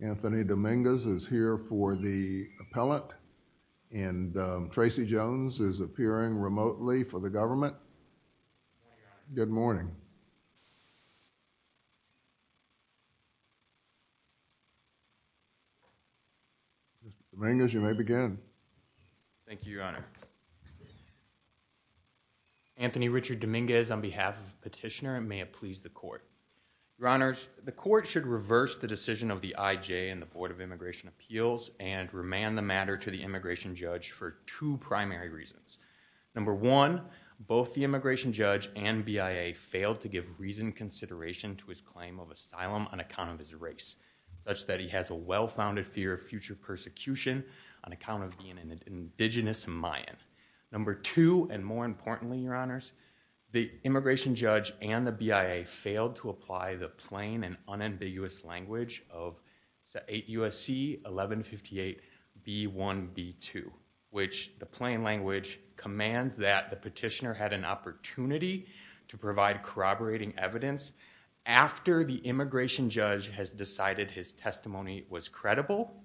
Anthony Dominguez is here for the appellate and Tracy Jones is appearing remotely for the government. Good morning. Mr. Dominguez, you may begin. Thank you, Your Honor. Anthony Richard Dominguez on behalf of the petitioner and may it please the court. Your Honors, the court should reverse the decision of the IJ and the Board of Immigration Appeals and remand the matter to the immigration judge for two primary reasons. Number one, both the immigration judge and BIA failed to give reasoned consideration to his claim of asylum on account of his race, such that he has a well-founded fear of future persecution on account of being an indigenous Mayan. Number two, and more importantly, Your Honors, the immigration judge and the BIA failed to apply the plain and unambiguous language of 8 USC 1158 B1 B2 which the plain language commands that the petitioner be released. The petitioner had an opportunity to provide corroborating evidence after the immigration judge has decided his testimony was credible,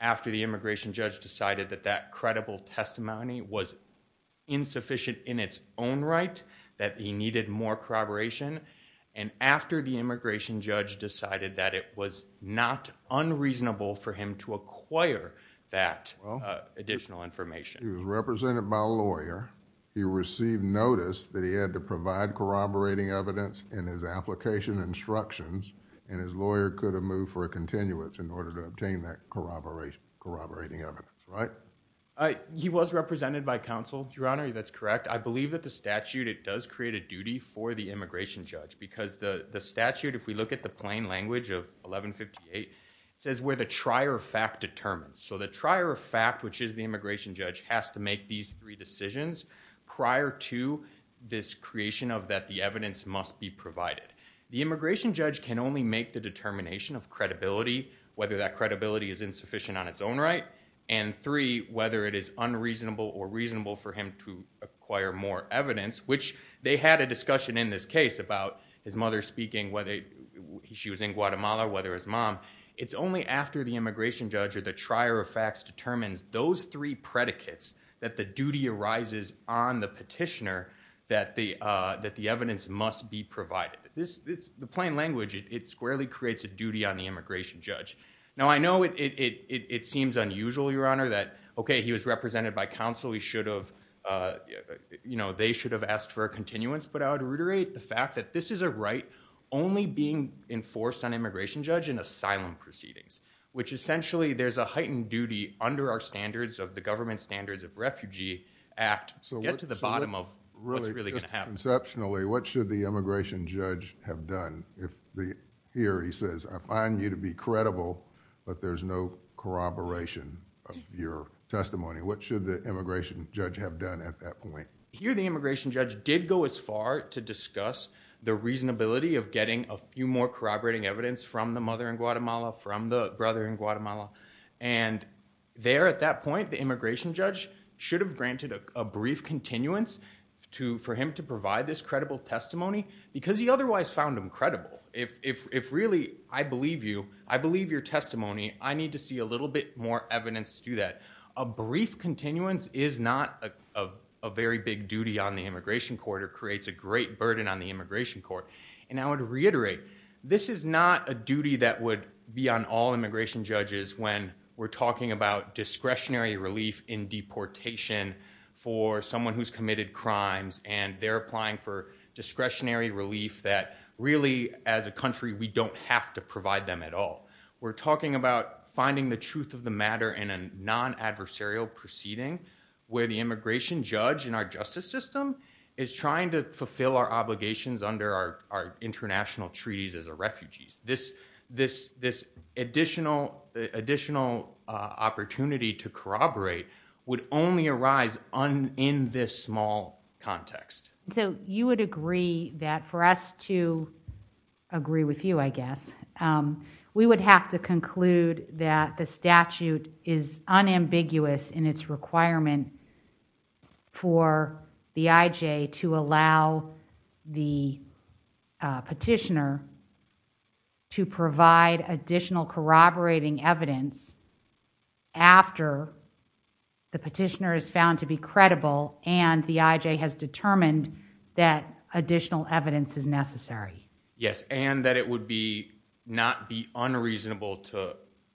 after the immigration judge decided that that credible testimony was insufficient in its own right, that he needed more corroboration, and after the immigration judge decided that it was not unreasonable for him to acquire that additional information. He was represented by a lawyer, he received notice that he had to provide corroborating evidence in his application instructions, and his lawyer could have moved for a continuance in order to obtain that corroborating evidence, right? He was represented by counsel, Your Honor, that's correct. I believe that the statute, it does create a duty for the immigration judge, because the statute, if we look at the plain language of 1158, it says where the trier of fact determines, so the trier of fact, which is the immigration judge has to make these three decisions prior to this creation of that the evidence must be provided. The immigration judge can only make the determination of credibility, whether that credibility is insufficient on its own right, and three, whether it is unreasonable or reasonable for him to acquire more evidence, which they had a discussion in this case about his mother speaking, whether she was in Guatemala, whether his mom, it's only after the immigration judge or the trier of facts determines those three predicates that the duty arises on the petitioner that the evidence must be provided. The plain language, it squarely creates a duty on the immigration judge. Now, I know it seems unusual, Your Honor, that, okay, he was represented by counsel, he should have, you know, they should have asked for a continuance, but I would reiterate the fact that this is a right only being enforced on immigration judge in asylum proceedings, which essentially there's a heightened duty under our standards of the government standards of refugee act to get to the bottom of what's really going to happen. Conceptually, what should the immigration judge have done if the, here he says, I find you to be credible, but there's no corroboration of your testimony, what should the immigration judge have done at that point? Here, the immigration judge did go as far to discuss the reasonability of getting a few more corroborating evidence from the mother in Guatemala, from the brother in Guatemala, and there at that point, the immigration judge should have granted a brief continuance for him to provide this credible testimony because he otherwise found him credible. If really, I believe you, I believe your testimony, I need to see a little bit more evidence to do that. A brief continuance is not a very big duty on the immigration court or creates a great burden on the immigration court. And I would reiterate, this is not a duty that would be on all immigration judges when we're talking about discretionary relief in deportation for someone who's committed crimes and they're applying for discretionary relief that really, as a country, we don't have to provide them at all. We're talking about finding the truth of the matter in a non-adversarial proceeding where the immigration judge in our justice system is trying to fulfill our obligations under our international treaties as a refugees. This additional opportunity to corroborate would only arise in this small context. So you would agree that for us to agree with you, I guess, we would have to conclude that the statute is unambiguous in its requirement for the IJ to allow the petitioner to provide additional corroborating evidence after the petitioner is found to be credible and the IJ has determined that additional evidence is necessary. Yes, and that it would not be unreasonable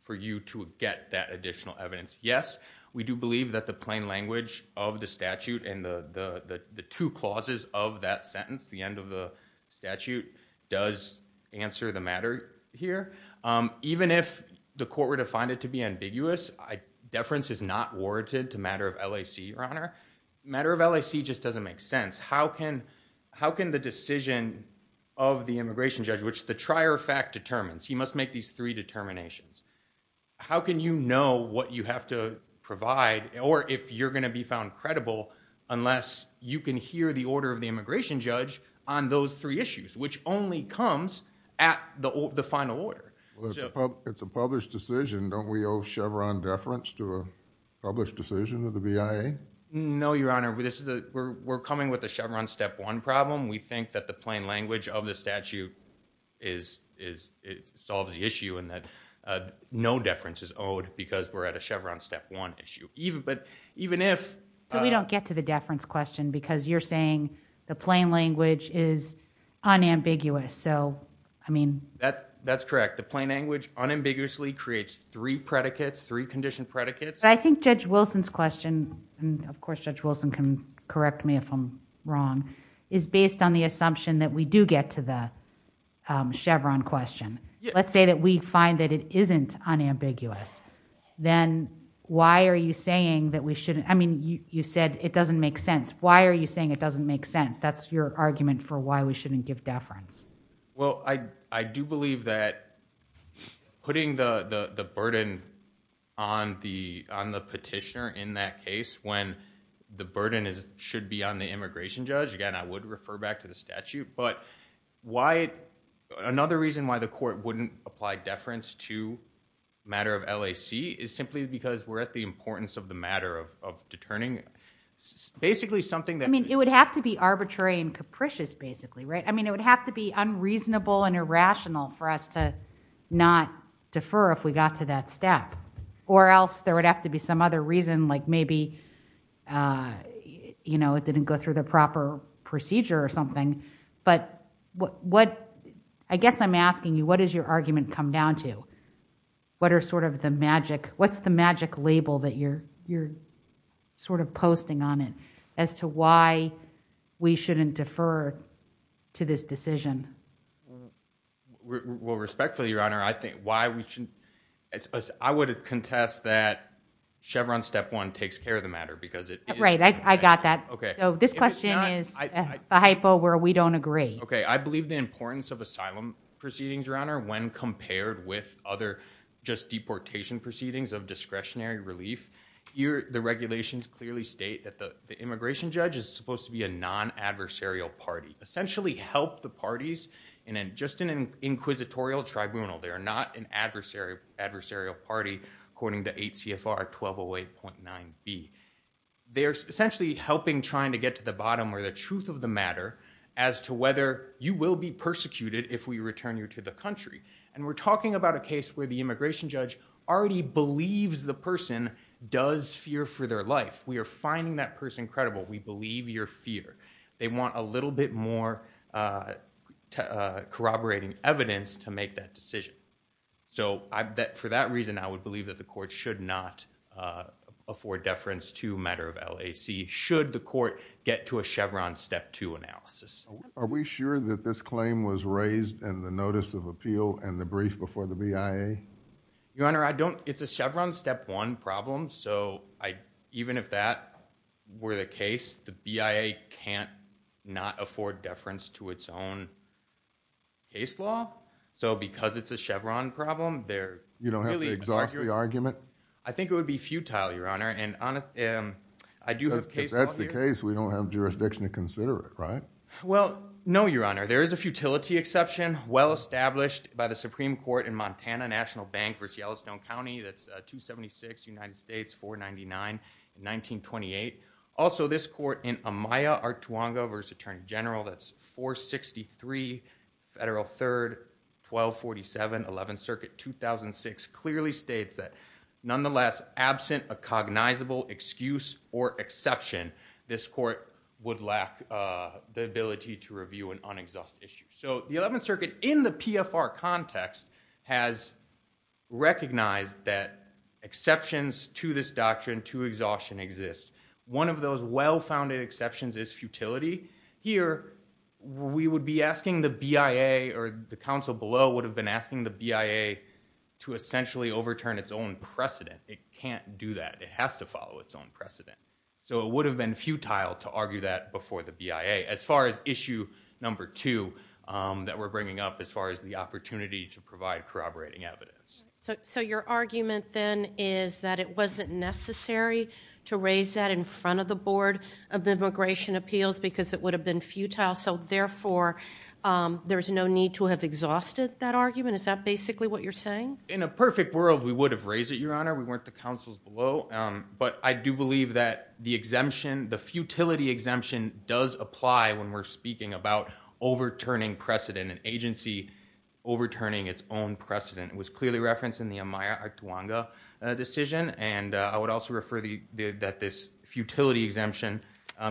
for you to get that additional evidence. Yes, we do believe that the plain language of the statute and the two clauses of that sentence, the end of the statute, does answer the matter here. Even if the court were to find it to be ambiguous, deference is not warranted to matter of LAC, Your Honor. Matter of LAC just doesn't make sense. How can the decision of the immigration judge, which the trier fact determines, he must make these three determinations. How can you know what you have to provide or if you're going to be found credible unless you can hear the order of the immigration judge on those three issues, which only comes at the final order? It's a published decision. Don't we owe Chevron deference to a published decision of the BIA? No, Your Honor. We're coming with a Chevron step one problem. We think that the plain language of the statute solves the issue and that no deference is owed because we're at a Chevron step one issue. We don't get to the deference question because you're saying the plain language is unambiguous. That's correct. The plain language unambiguously creates three predicates, three conditioned predicates. I think Judge Wilson's question, and of course Judge Wilson can correct me if I'm wrong, is based on the assumption that we do get to the Chevron question. Let's say that we find that it isn't unambiguous, then why are you saying that we shouldn't... I mean, you said it doesn't make sense. Why are you saying it doesn't make sense? That's your argument for why we shouldn't give deference. Well, I do believe that putting the burden on the petitioner in that case when the burden should be on the immigration judge, again, I would refer back to the statute. But another reason why the court wouldn't apply deference to a matter of LAC is simply because we're at the importance of the matter of deterring, basically something that... I mean, it would have to be unreasonable and irrational for us to not defer if we got to that step. Or else there would have to be some other reason, like maybe it didn't go through the proper procedure or something. But I guess I'm asking you, what does your argument come down to? What are sort of the magic... what's the magic label that you're sort of posting on it as to why we shouldn't defer to this decision? Well, respectfully, Your Honor, I think why we shouldn't... I would contest that Chevron step one takes care of the matter because it... Right, I got that. Okay. So this question is a hypo where we don't agree. Okay, I believe the importance of asylum proceedings, Your Honor, when compared with other just deportation proceedings of discretionary relief. The regulations clearly state that the immigration judge is supposed to be a non-adversarial party. Essentially help the parties in just an inquisitorial tribunal. They are not an adversarial party according to 8 CFR 1208.9B. They're essentially helping trying to get to the bottom or the truth of the matter as to whether you will be persecuted if we return you to the country. And we're talking about a case where the immigration judge already believes the person does fear for their life. We are finding that person credible. We believe your fear. They want a little bit more corroborating evidence to make that decision. So for that reason, I would believe that the court should not afford deference to a matter of LAC should the court get to a Chevron step two analysis. Are we sure that this claim was raised in the notice of appeal and the brief before the BIA? Your Honor, I don't... It's a Chevron step one problem. So even if that were the case, the BIA can't not afford deference to its own case law. So because it's a Chevron problem, they're... You don't have to exhaust the argument? I think it would be futile, Your Honor. And I do have cases... If that's the case, we don't have jurisdiction to consider it, right? Well, no, Your Honor. There is a futility exception well established by the Supreme Court in Montana National Bank v. Yellowstone County. That's 276 United States 499 in 1928. Also, this court in Amaya, Artuango v. Attorney General, that's 463 Federal 3rd, 1247, 11th Circuit, 2006, clearly states that nonetheless, absent a cognizable excuse or exception, this court would lack the ability to review an unexhaust issue. So the 11th Circuit, in the PFR context, has recognized that exceptions to this doctrine to exhaustion exist. One of those well-founded exceptions is futility. Here, we would be asking the BIA or the counsel below would have been asking the BIA to essentially overturn its own precedent. It can't do that. It has to follow its own precedent. So it would have been futile to argue that before the BIA. As far as issue number two that we're bringing up, as far as the opportunity to provide corroborating evidence. So your argument then is that it wasn't necessary to raise that in front of the Board of Immigration Appeals because it would have been futile. So therefore, there's no need to have exhausted that argument? Is that basically what you're saying? In a perfect world, we would have raised it, Your Honor. We weren't the counsels below. But I do believe that the exemption, the futility exemption, does apply when we're speaking about overturning precedent. An agency overturning its own precedent. It was clearly referenced in the Amaya Artuanga decision. And I would also refer that this futility exemption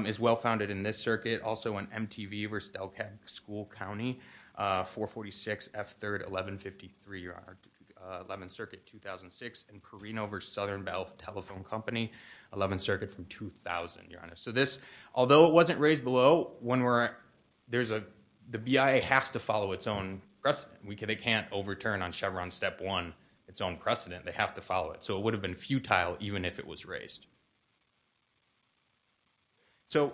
is well-founded in this circuit. Also in MTV versus Delcad School County, 446 F3rd 1153, Your Honor. 11th Circuit 2006 and Carino versus Southern Belle Telephone Company. 11th Circuit from 2000, Your Honor. So this, although it wasn't raised below, the BIA has to follow its own precedent. They can't overturn on Chevron Step 1 its own precedent. They have to follow it. So it would have been futile even if it was raised. So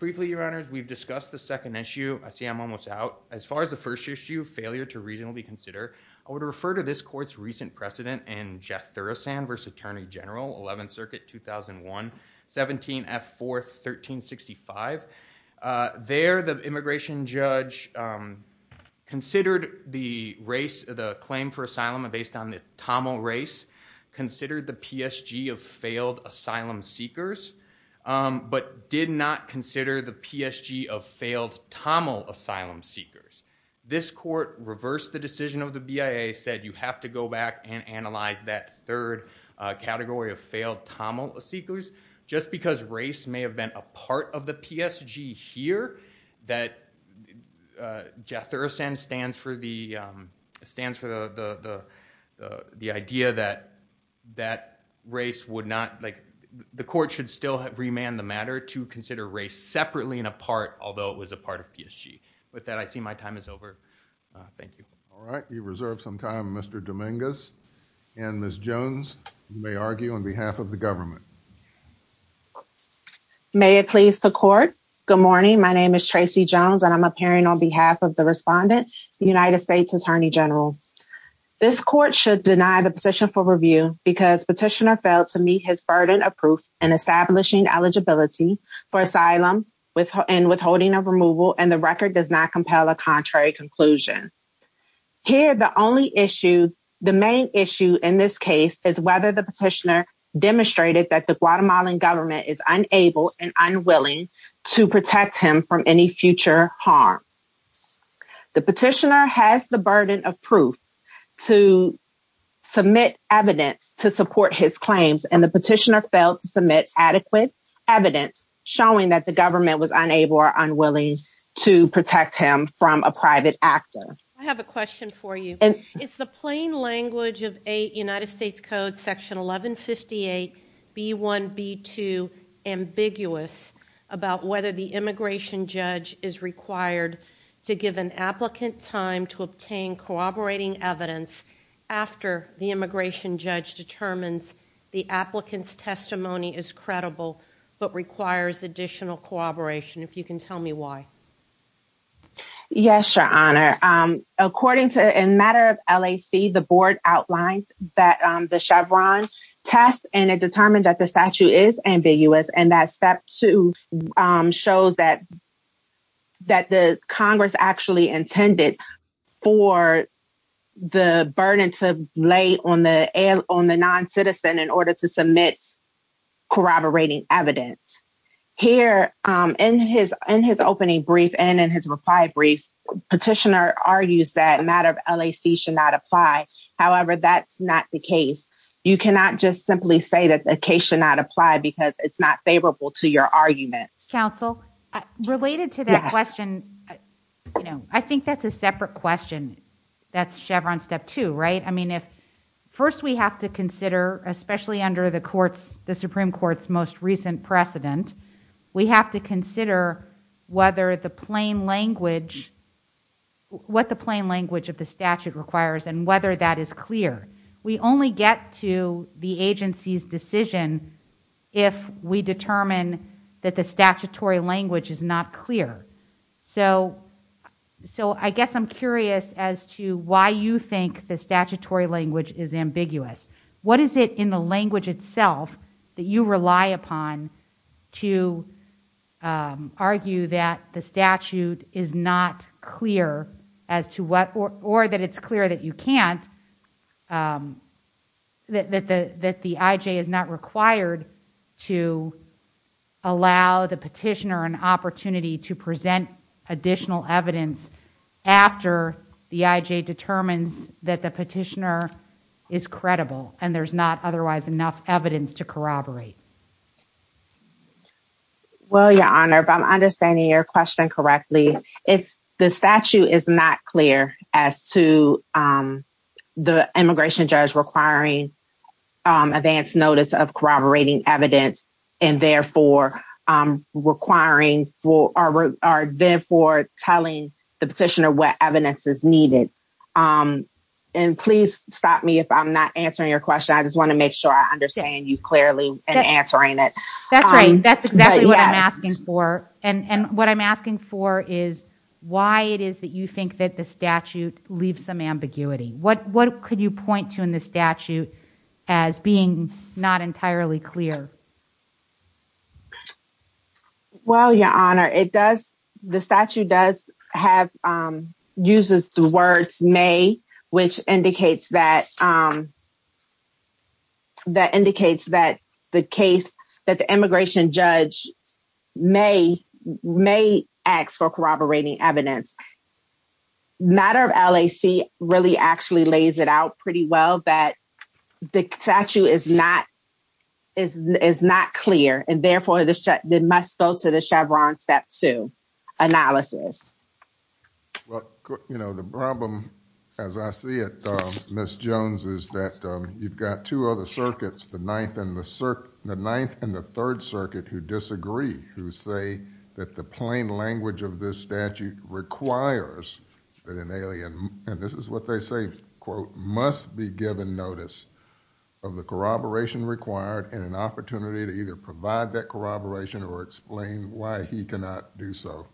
briefly, Your Honors, we've discussed the second issue. I see I'm almost out. As far as the first issue, failure to reasonably consider. I would refer to this court's recent precedent in Jeff Thurasand versus Attorney General. 11th Circuit 2001, 17 F4, 1365. There, the immigration judge considered the race, the claim for asylum based on the Tamil race. Considered the PSG of failed asylum seekers. But did not consider the PSG of failed Tamil asylum seekers. This court reversed the decision of the BIA. Said you have to go back and analyze that third category of failed Tamil seekers. Just because race may have been a part of the PSG here. That Jeff Thurasand stands for the, stands for the idea that that race would not, like the court should still remand the matter to consider race separately and apart. Although it was a part of PSG. With that, I see my time is over. Thank you. All right. You've reserved some time, Mr. Dominguez. And Ms. Jones, you may argue on behalf of the government. May it please the court. Good morning. My name is Tracy Jones. And I'm appearing on behalf of the respondent, the United States Attorney General. This court should deny the position for review because petitioner failed to meet his burden of proof. And establishing eligibility for asylum with and withholding of removal. And the record does not compel a contrary conclusion. Here, the only issue, the main issue in this case, Is whether the petitioner demonstrated that the Guatemalan government is unable and unwilling to protect him from any future harm. The petitioner has the burden of proof to submit evidence to support his claims. And the petitioner failed to submit adequate evidence showing that the government was unable or unwilling to protect him from a private actor. I have a question for you. It's the plain language of United States Code Section 1158B1B2. Ambiguous about whether the immigration judge is required to give an applicant time to obtain corroborating evidence. After the immigration judge determines the applicant's testimony is credible, but requires additional corroboration. If you can tell me why. Yes, Your Honor. According to a matter of LAC, the board outlined that the Chevron test and it determined that the statute is ambiguous. And that step two shows that. That the Congress actually intended for the burden to lay on the on the non-citizen in order to submit corroborating evidence. Here in his in his opening brief and in his reply brief, petitioner argues that matter of LAC should not apply. However, that's not the case. You cannot just simply say that the case should not apply because it's not favorable to your argument. Counsel related to that question. You know, I think that's a separate question. That's Chevron step two. Right. I mean, if first we have to consider, especially under the courts, the Supreme Court's most recent precedent, we have to consider whether the plain language what the plain language of the statute requires and whether that is clear. We only get to the agency's decision if we determine that the statutory language is not clear. So so I guess I'm curious as to why you think the statutory language is ambiguous. What is it in the language itself that you rely upon to argue that the statute is not clear as to what or that it's clear that you can't. That the that the I.J. is not required to allow the petitioner an opportunity to present additional evidence after the I.J. determines that the petitioner is credible and there's not otherwise enough evidence to corroborate. Well, your honor, if I'm understanding your question correctly, if the statute is not clear as to the immigration judge requiring advance notice of corroborating evidence and therefore requiring for our therefore telling the petitioner what evidence is needed. And please stop me if I'm not answering your question. I just want to make sure I understand you clearly and answering it. That's right. That's exactly what I'm asking for. And what I'm asking for is why it is that you think that the statute leaves some ambiguity. What what could you point to in the statute as being not entirely clear? Well, your honor, it does. The statute does have uses the words may, which indicates that. That indicates that the case that the immigration judge may may ask for corroborating evidence. Matter of L.A.C. really actually lays it out pretty well that the statute is not is not clear and therefore this must go to the Chevron step to analysis. Well, you know, the problem, as I see it, Miss Jones, is that you've got two other circuits, the ninth and the ninth and the third circuit, who disagree, who say that the plain language of this statute requires that an alien. And this is what they say, quote, must be given notice of the corroboration required and an opportunity to either provide that corroboration or explain why he cannot do so.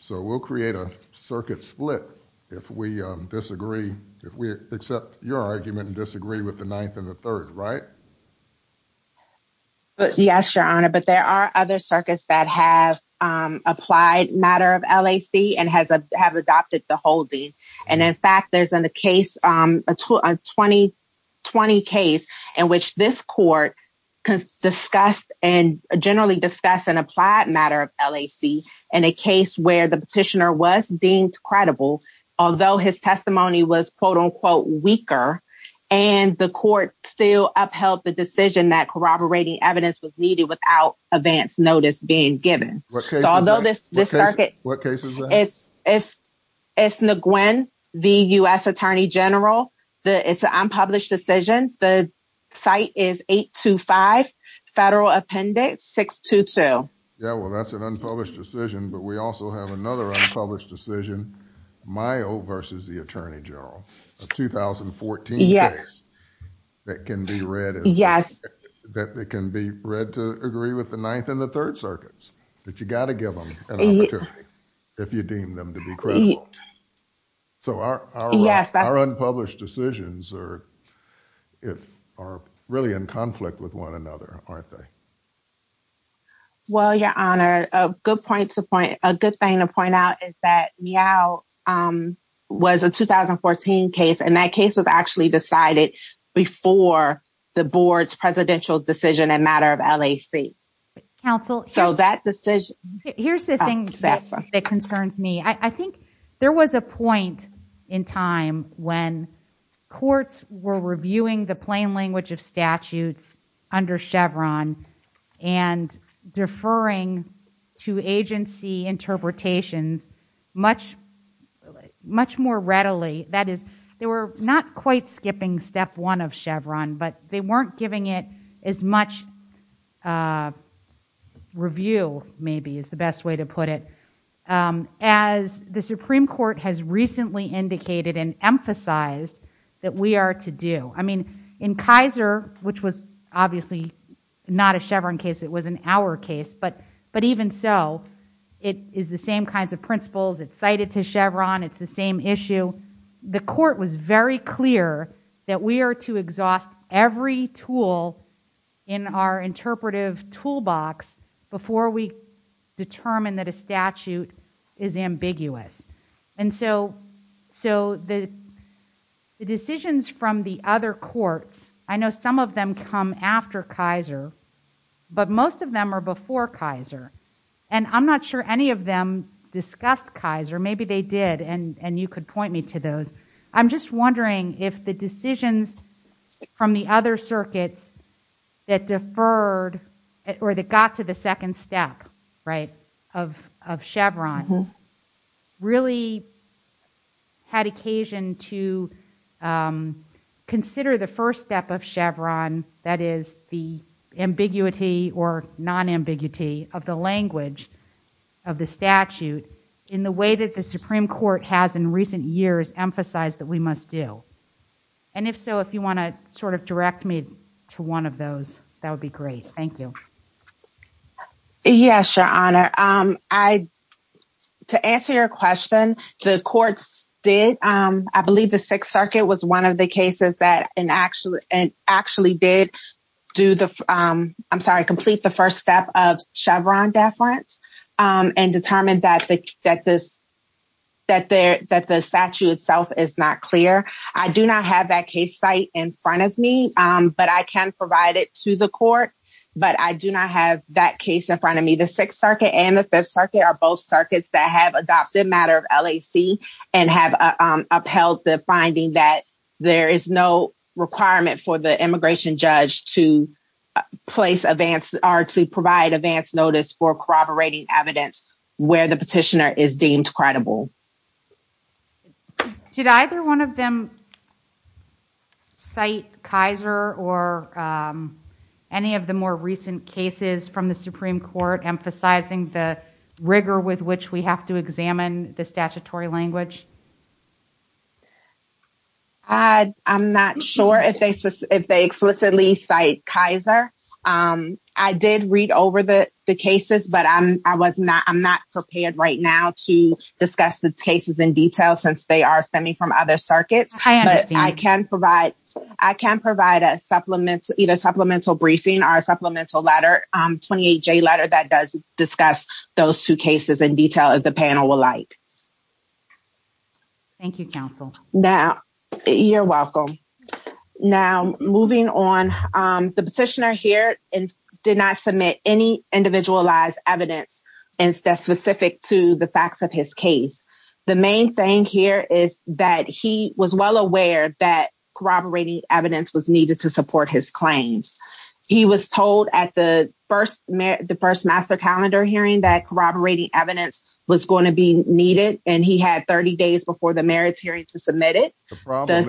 So we'll create a circuit split if we disagree, if we accept your argument and disagree with the ninth and the third. Right. Yes, your honor. But there are other circuits that have applied matter of L.A.C. and has have adopted the holding. And in fact, there's in the case a 2020 case in which this court discussed and generally discuss an applied matter of L.A.C. and a case where the petitioner was deemed credible, although his testimony was, quote, unquote, weaker. And the court still upheld the decision that corroborating evidence was needed without advance notice being given. What case is that? It's Nguyen, the U.S. Attorney General. It's an unpublished decision. The site is 825 Federal Appendix 622. Yeah, well, that's an unpublished decision, but we also have another unpublished decision, Mayo versus the Attorney General. It's 2014. Yes, that can be read. Yes, that can be read to agree with the ninth and the third circuits that you got to give them an opportunity if you deem them to be credible. So, yes, our unpublished decisions are if are really in conflict with one another, aren't they? Well, your honor, a good point to point a good thing to point out is that now was a 2014 case, and that case was actually decided before the board's presidential decision, a matter of L.A.C. So that decision. Here's the thing that concerns me. I think there was a point in time when courts were reviewing the plain language of statutes under Chevron and deferring to agency interpretations much, much more readily. That is, they were not quite skipping step one of Chevron, but they weren't giving it as much review, maybe is the best way to put it, as the Supreme Court has recently indicated and emphasized that we are to do. I mean, in Kaiser, which was obviously not a Chevron case, it was an Auer case, but even so, it is the same kinds of principles. It's cited to Chevron. It's the same issue. The court was very clear that we are to exhaust every tool in our interpretive toolbox before we determine that a statute is ambiguous. And so the decisions from the other courts, I know some of them come after Kaiser, but most of them are before Kaiser, and I'm not sure any of them discussed Kaiser. Maybe they did, and you could point me to those. I'm just wondering if the decisions from the other circuits that deferred or that got to the second step of Chevron really had occasion to consider the first step of Chevron, that is, the ambiguity or non-ambiguity of the language of the statute, in the way that the Supreme Court has in recent years emphasized that we must do. And if so, if you want to sort of direct me to one of those, that would be great. Thank you. Yes, Your Honor. To answer your question, the courts did. I believe the Sixth Circuit was one of the cases that actually did complete the first step of Chevron deference and determined that the statute itself is not clear. I do not have that case site in front of me, but I can provide it to the court, but I do not have that case in front of me. The Sixth Circuit and the Fifth Circuit are both circuits that have adopted matter of LAC and have upheld the finding that there is no requirement for the immigration judge to place advance or to provide advance notice for corroborating evidence where the petitioner is deemed credible. Did either one of them cite Kaiser or any of the more recent cases from the Supreme Court emphasizing the rigor with which we have to examine the statutory language? I'm not sure if they explicitly cite Kaiser. I did read over the cases, but I'm not prepared right now to discuss the cases in detail since they are stemming from other circuits. I can provide a supplemental briefing or a supplemental letter, a 28-J letter that does discuss those two cases in detail if the panel would like. You're welcome. Now, moving on, the petitioner here did not submit any individualized evidence specific to the facts of his case. The main thing here is that he was well aware that corroborating evidence was needed to support his claims. He was told at the first master calendar hearing that corroborating evidence was going to be needed, and he had 30 days before the merits hearing to submit it. The problem, Ms.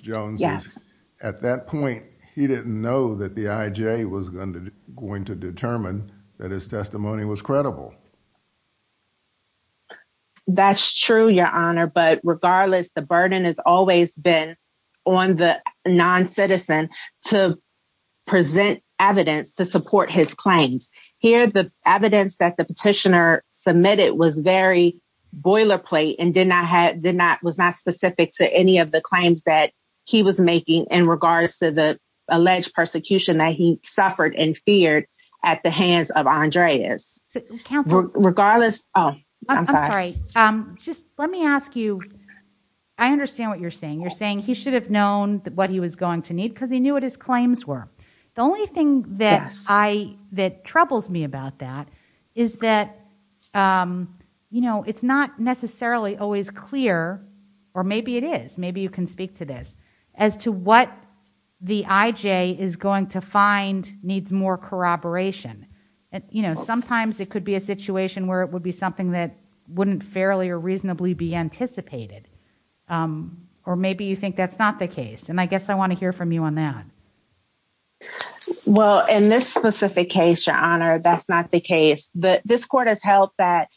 Jones, is at that point, he didn't know that the IJ was going to determine that his testimony was credible. That's true, Your Honor, but regardless, the burden has always been on the non-citizen to present evidence to support his claims. Here, the evidence that the petitioner submitted was very boilerplate and was not specific to any of the claims that he was making in regards to the alleged persecution that he suffered and feared at the hands of Andreas. I'm sorry, just let me ask you, I understand what you're saying. You're saying he should have known what he was going to need because he knew what his claims were. The only thing that troubles me about that is that it's not necessarily always clear, or maybe it is, maybe you can speak to this, as to what the IJ is going to find needs more corroboration. Sometimes it could be a situation where it would be something that wouldn't fairly or reasonably be anticipated, or maybe you think that's not the case, and I guess I want to hear from you on that. Well, in this specific case, Your Honor, that's not the case. This court has held that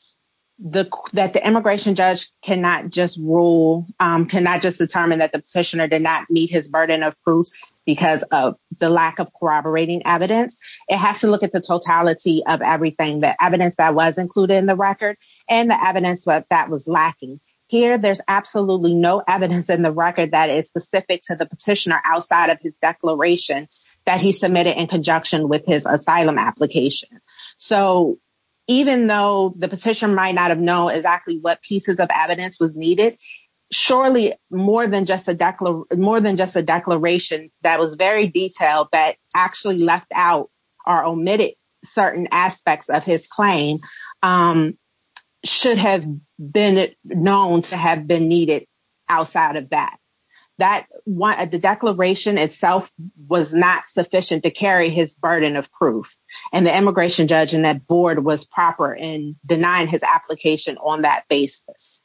the immigration judge cannot just rule, cannot just determine that the petitioner did not meet his burden of proof because of the lack of corroborating evidence. It has to look at the totality of everything, the evidence that was included in the record, and the evidence that was lacking. Here, there's absolutely no evidence in the record that is specific to the petitioner outside of his declaration that he submitted in conjunction with his asylum application. Even though the petitioner might not have known exactly what pieces of evidence was needed, surely more than just a declaration that was very detailed, that actually left out or omitted certain aspects of his claim, should have been known to have been needed outside of that. The declaration itself was not sufficient to carry his burden of proof, and the immigration judge and that board was proper in denying his application on that basis.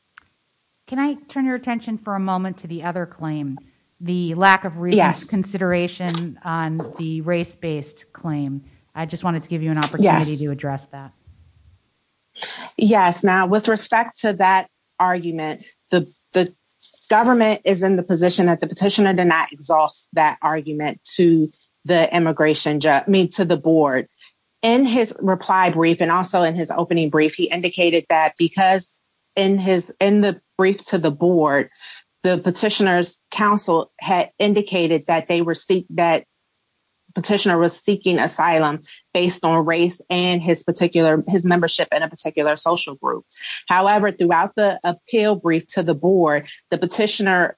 Can I turn your attention for a moment to the other claim, the lack of reconsideration on the race-based claim? I just wanted to give you an opportunity to address that. Yes. Now, with respect to that argument, the government is in the position that the petitioner did not exhaust that argument to the board. In his reply brief and also in his opening brief, he indicated that because in the brief to the board, the petitioner's counsel had indicated that the petitioner was seeking asylum based on race and his membership in a particular social group. However, throughout the appeal brief to the board, the petitioner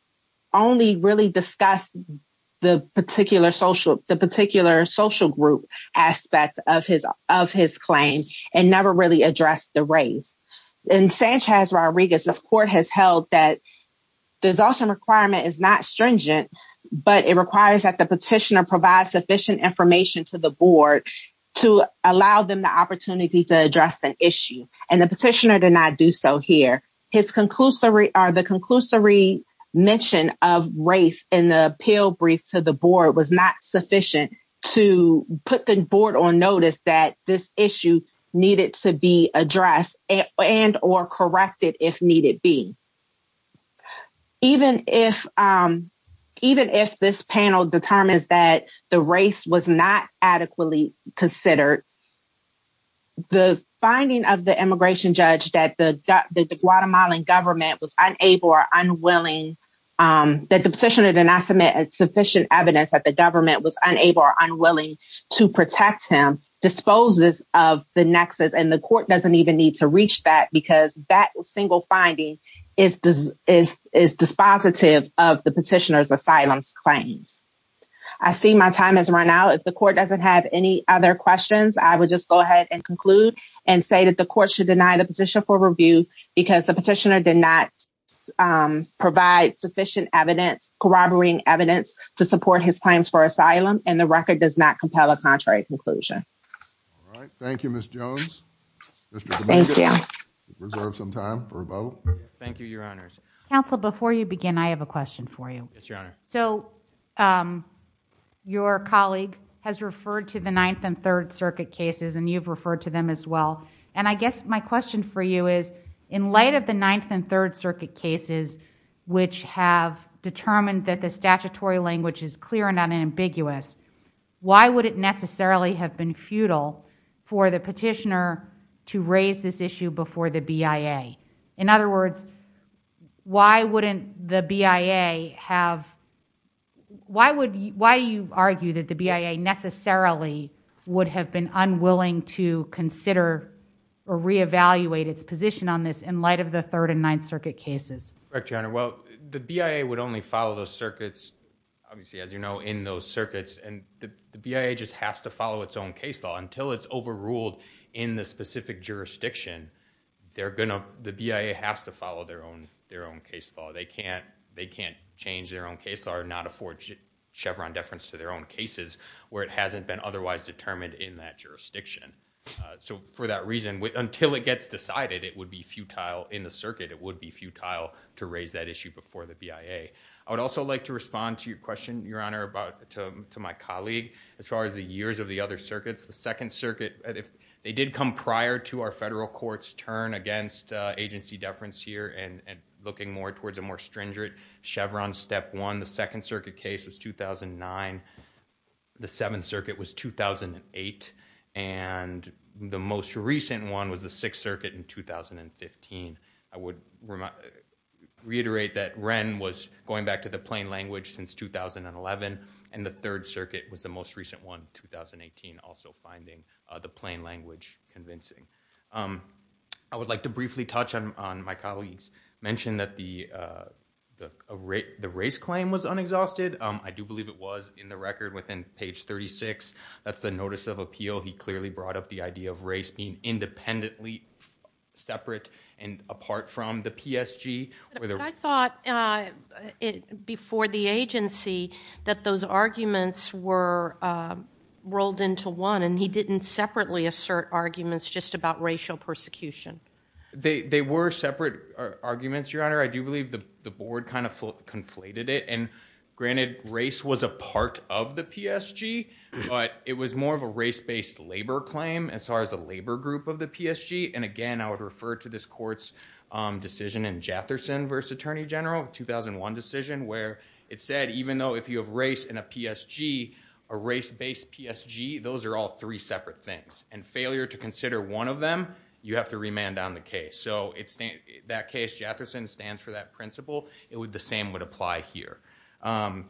only really discussed the particular social group aspect of his claim and never really addressed the race. In Sanchez Rodriguez, this court has held that the exhaustion requirement is not stringent, but it requires that the petitioner provide sufficient information to the board to allow them the opportunity to address the issue. And the petitioner did not do so here. The conclusory mention of race in the appeal brief to the board was not sufficient to put the board on notice that this issue needed to be addressed and or corrected if needed be. Even if this panel determines that the race was not adequately considered, the finding of the immigration judge that the Guatemalan government was unable or unwilling that the petitioner did not submit sufficient evidence that the government was unable or unwilling to protect him disposes of the nexus. And the court doesn't even need to reach that because that single finding is dispositive of the petitioner's asylum claims. I see my time has run out. If the court doesn't have any other questions, I would just go ahead and conclude and say that the court should deny the petition for review because the petitioner did not provide sufficient evidence corroborating evidence to support his claims for asylum and the record does not compel a contrary conclusion. All right. Thank you, Ms. Jones. Thank you. Reserve some time for a vote. Thank you, Your Honors. Counsel, before you begin, I have a question for you. Yes, Your Honor. Your colleague has referred to the Ninth and Third Circuit cases and you've referred to them as well. And I guess my question for you is, in light of the Ninth and Third Circuit cases, which have determined that the statutory language is clear and unambiguous, why would it necessarily have been futile for the petitioner to raise this issue before the BIA? In other words, why wouldn't the BIA have – why would – why do you argue that the BIA necessarily would have been unwilling to consider or reevaluate its position on this in light of the Third and Ninth Circuit cases? Correct, Your Honor. Well, the BIA would only follow those circuits, obviously, as you know, in those circuits, and the BIA just has to follow its own case law. Until it's overruled in the specific jurisdiction, they're going to – the BIA has to follow their own case law. They can't change their own case law or not afford Chevron deference to their own cases where it hasn't been otherwise determined in that jurisdiction. So for that reason, until it gets decided, it would be futile in the circuit. It would be futile to raise that issue before the BIA. I would also like to respond to your question, Your Honor, about – to my colleague as far as the years of the other circuits. The Second Circuit – they did come prior to our federal court's turn against agency deference here and looking more towards a more stringent Chevron step one. The Second Circuit case was 2009. The Seventh Circuit was 2008, and the most recent one was the Sixth Circuit in 2015. I would reiterate that Wren was going back to the plain language since 2011, and the Third Circuit was the most recent one, 2018, also finding the plain language convincing. I would like to briefly touch on my colleague's mention that the race claim was unexhausted. I do believe it was in the record within page 36. That's the notice of appeal. He clearly brought up the idea of race being independently separate and apart from the PSG. I thought before the agency that those arguments were rolled into one, and he didn't separately assert arguments just about racial persecution. They were separate arguments, Your Honor. I do believe the board kind of conflated it, and granted race was a part of the PSG, but it was more of a race-based labor claim as far as a labor group of the PSG, and again, I would refer to this court's decision in Jetherson v. Attorney General, 2001 decision, where it said even though if you have race in a PSG, a race-based PSG, those are all three separate things, and failure to consider one of them, you have to remand on the case. That case, Jetherson, stands for that principle. The same would apply here. I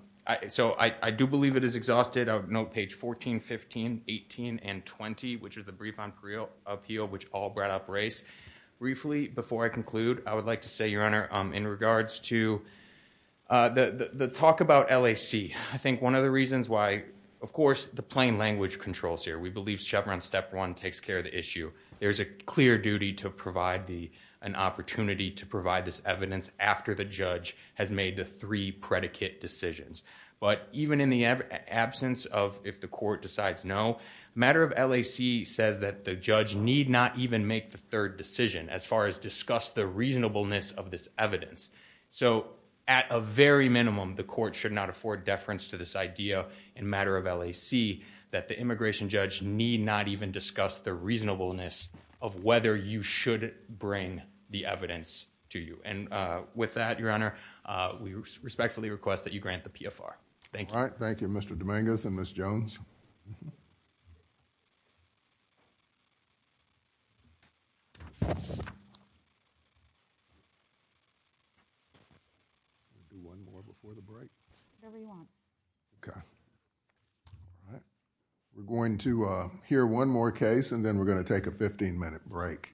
do believe it is exhausted. I would note page 14, 15, 18, and 20, which is the brief on appeal, which all brought up race. Briefly, before I conclude, I would like to say, Your Honor, in regards to the talk about LAC, I think one of the reasons why, of course, the plain language controls here. We believe Chevron step one takes care of the issue. There's a clear duty to provide an opportunity to provide this evidence after the judge has made the three predicate decisions, but even in the absence of if the court decides no, matter of LAC says that the judge need not even make the third decision as far as discuss the reasonableness of this evidence. So at a very minimum, the court should not afford deference to this idea in matter of LAC that the immigration judge need not even discuss the reasonableness of whether you should bring the evidence to you. With that, Your Honor, we respectfully request that you grant the PFR. Thank you. Thank you, Mr. Dominguez and Ms. Jones. We're going to hear one more case, and then we're going to take a 15-minute break.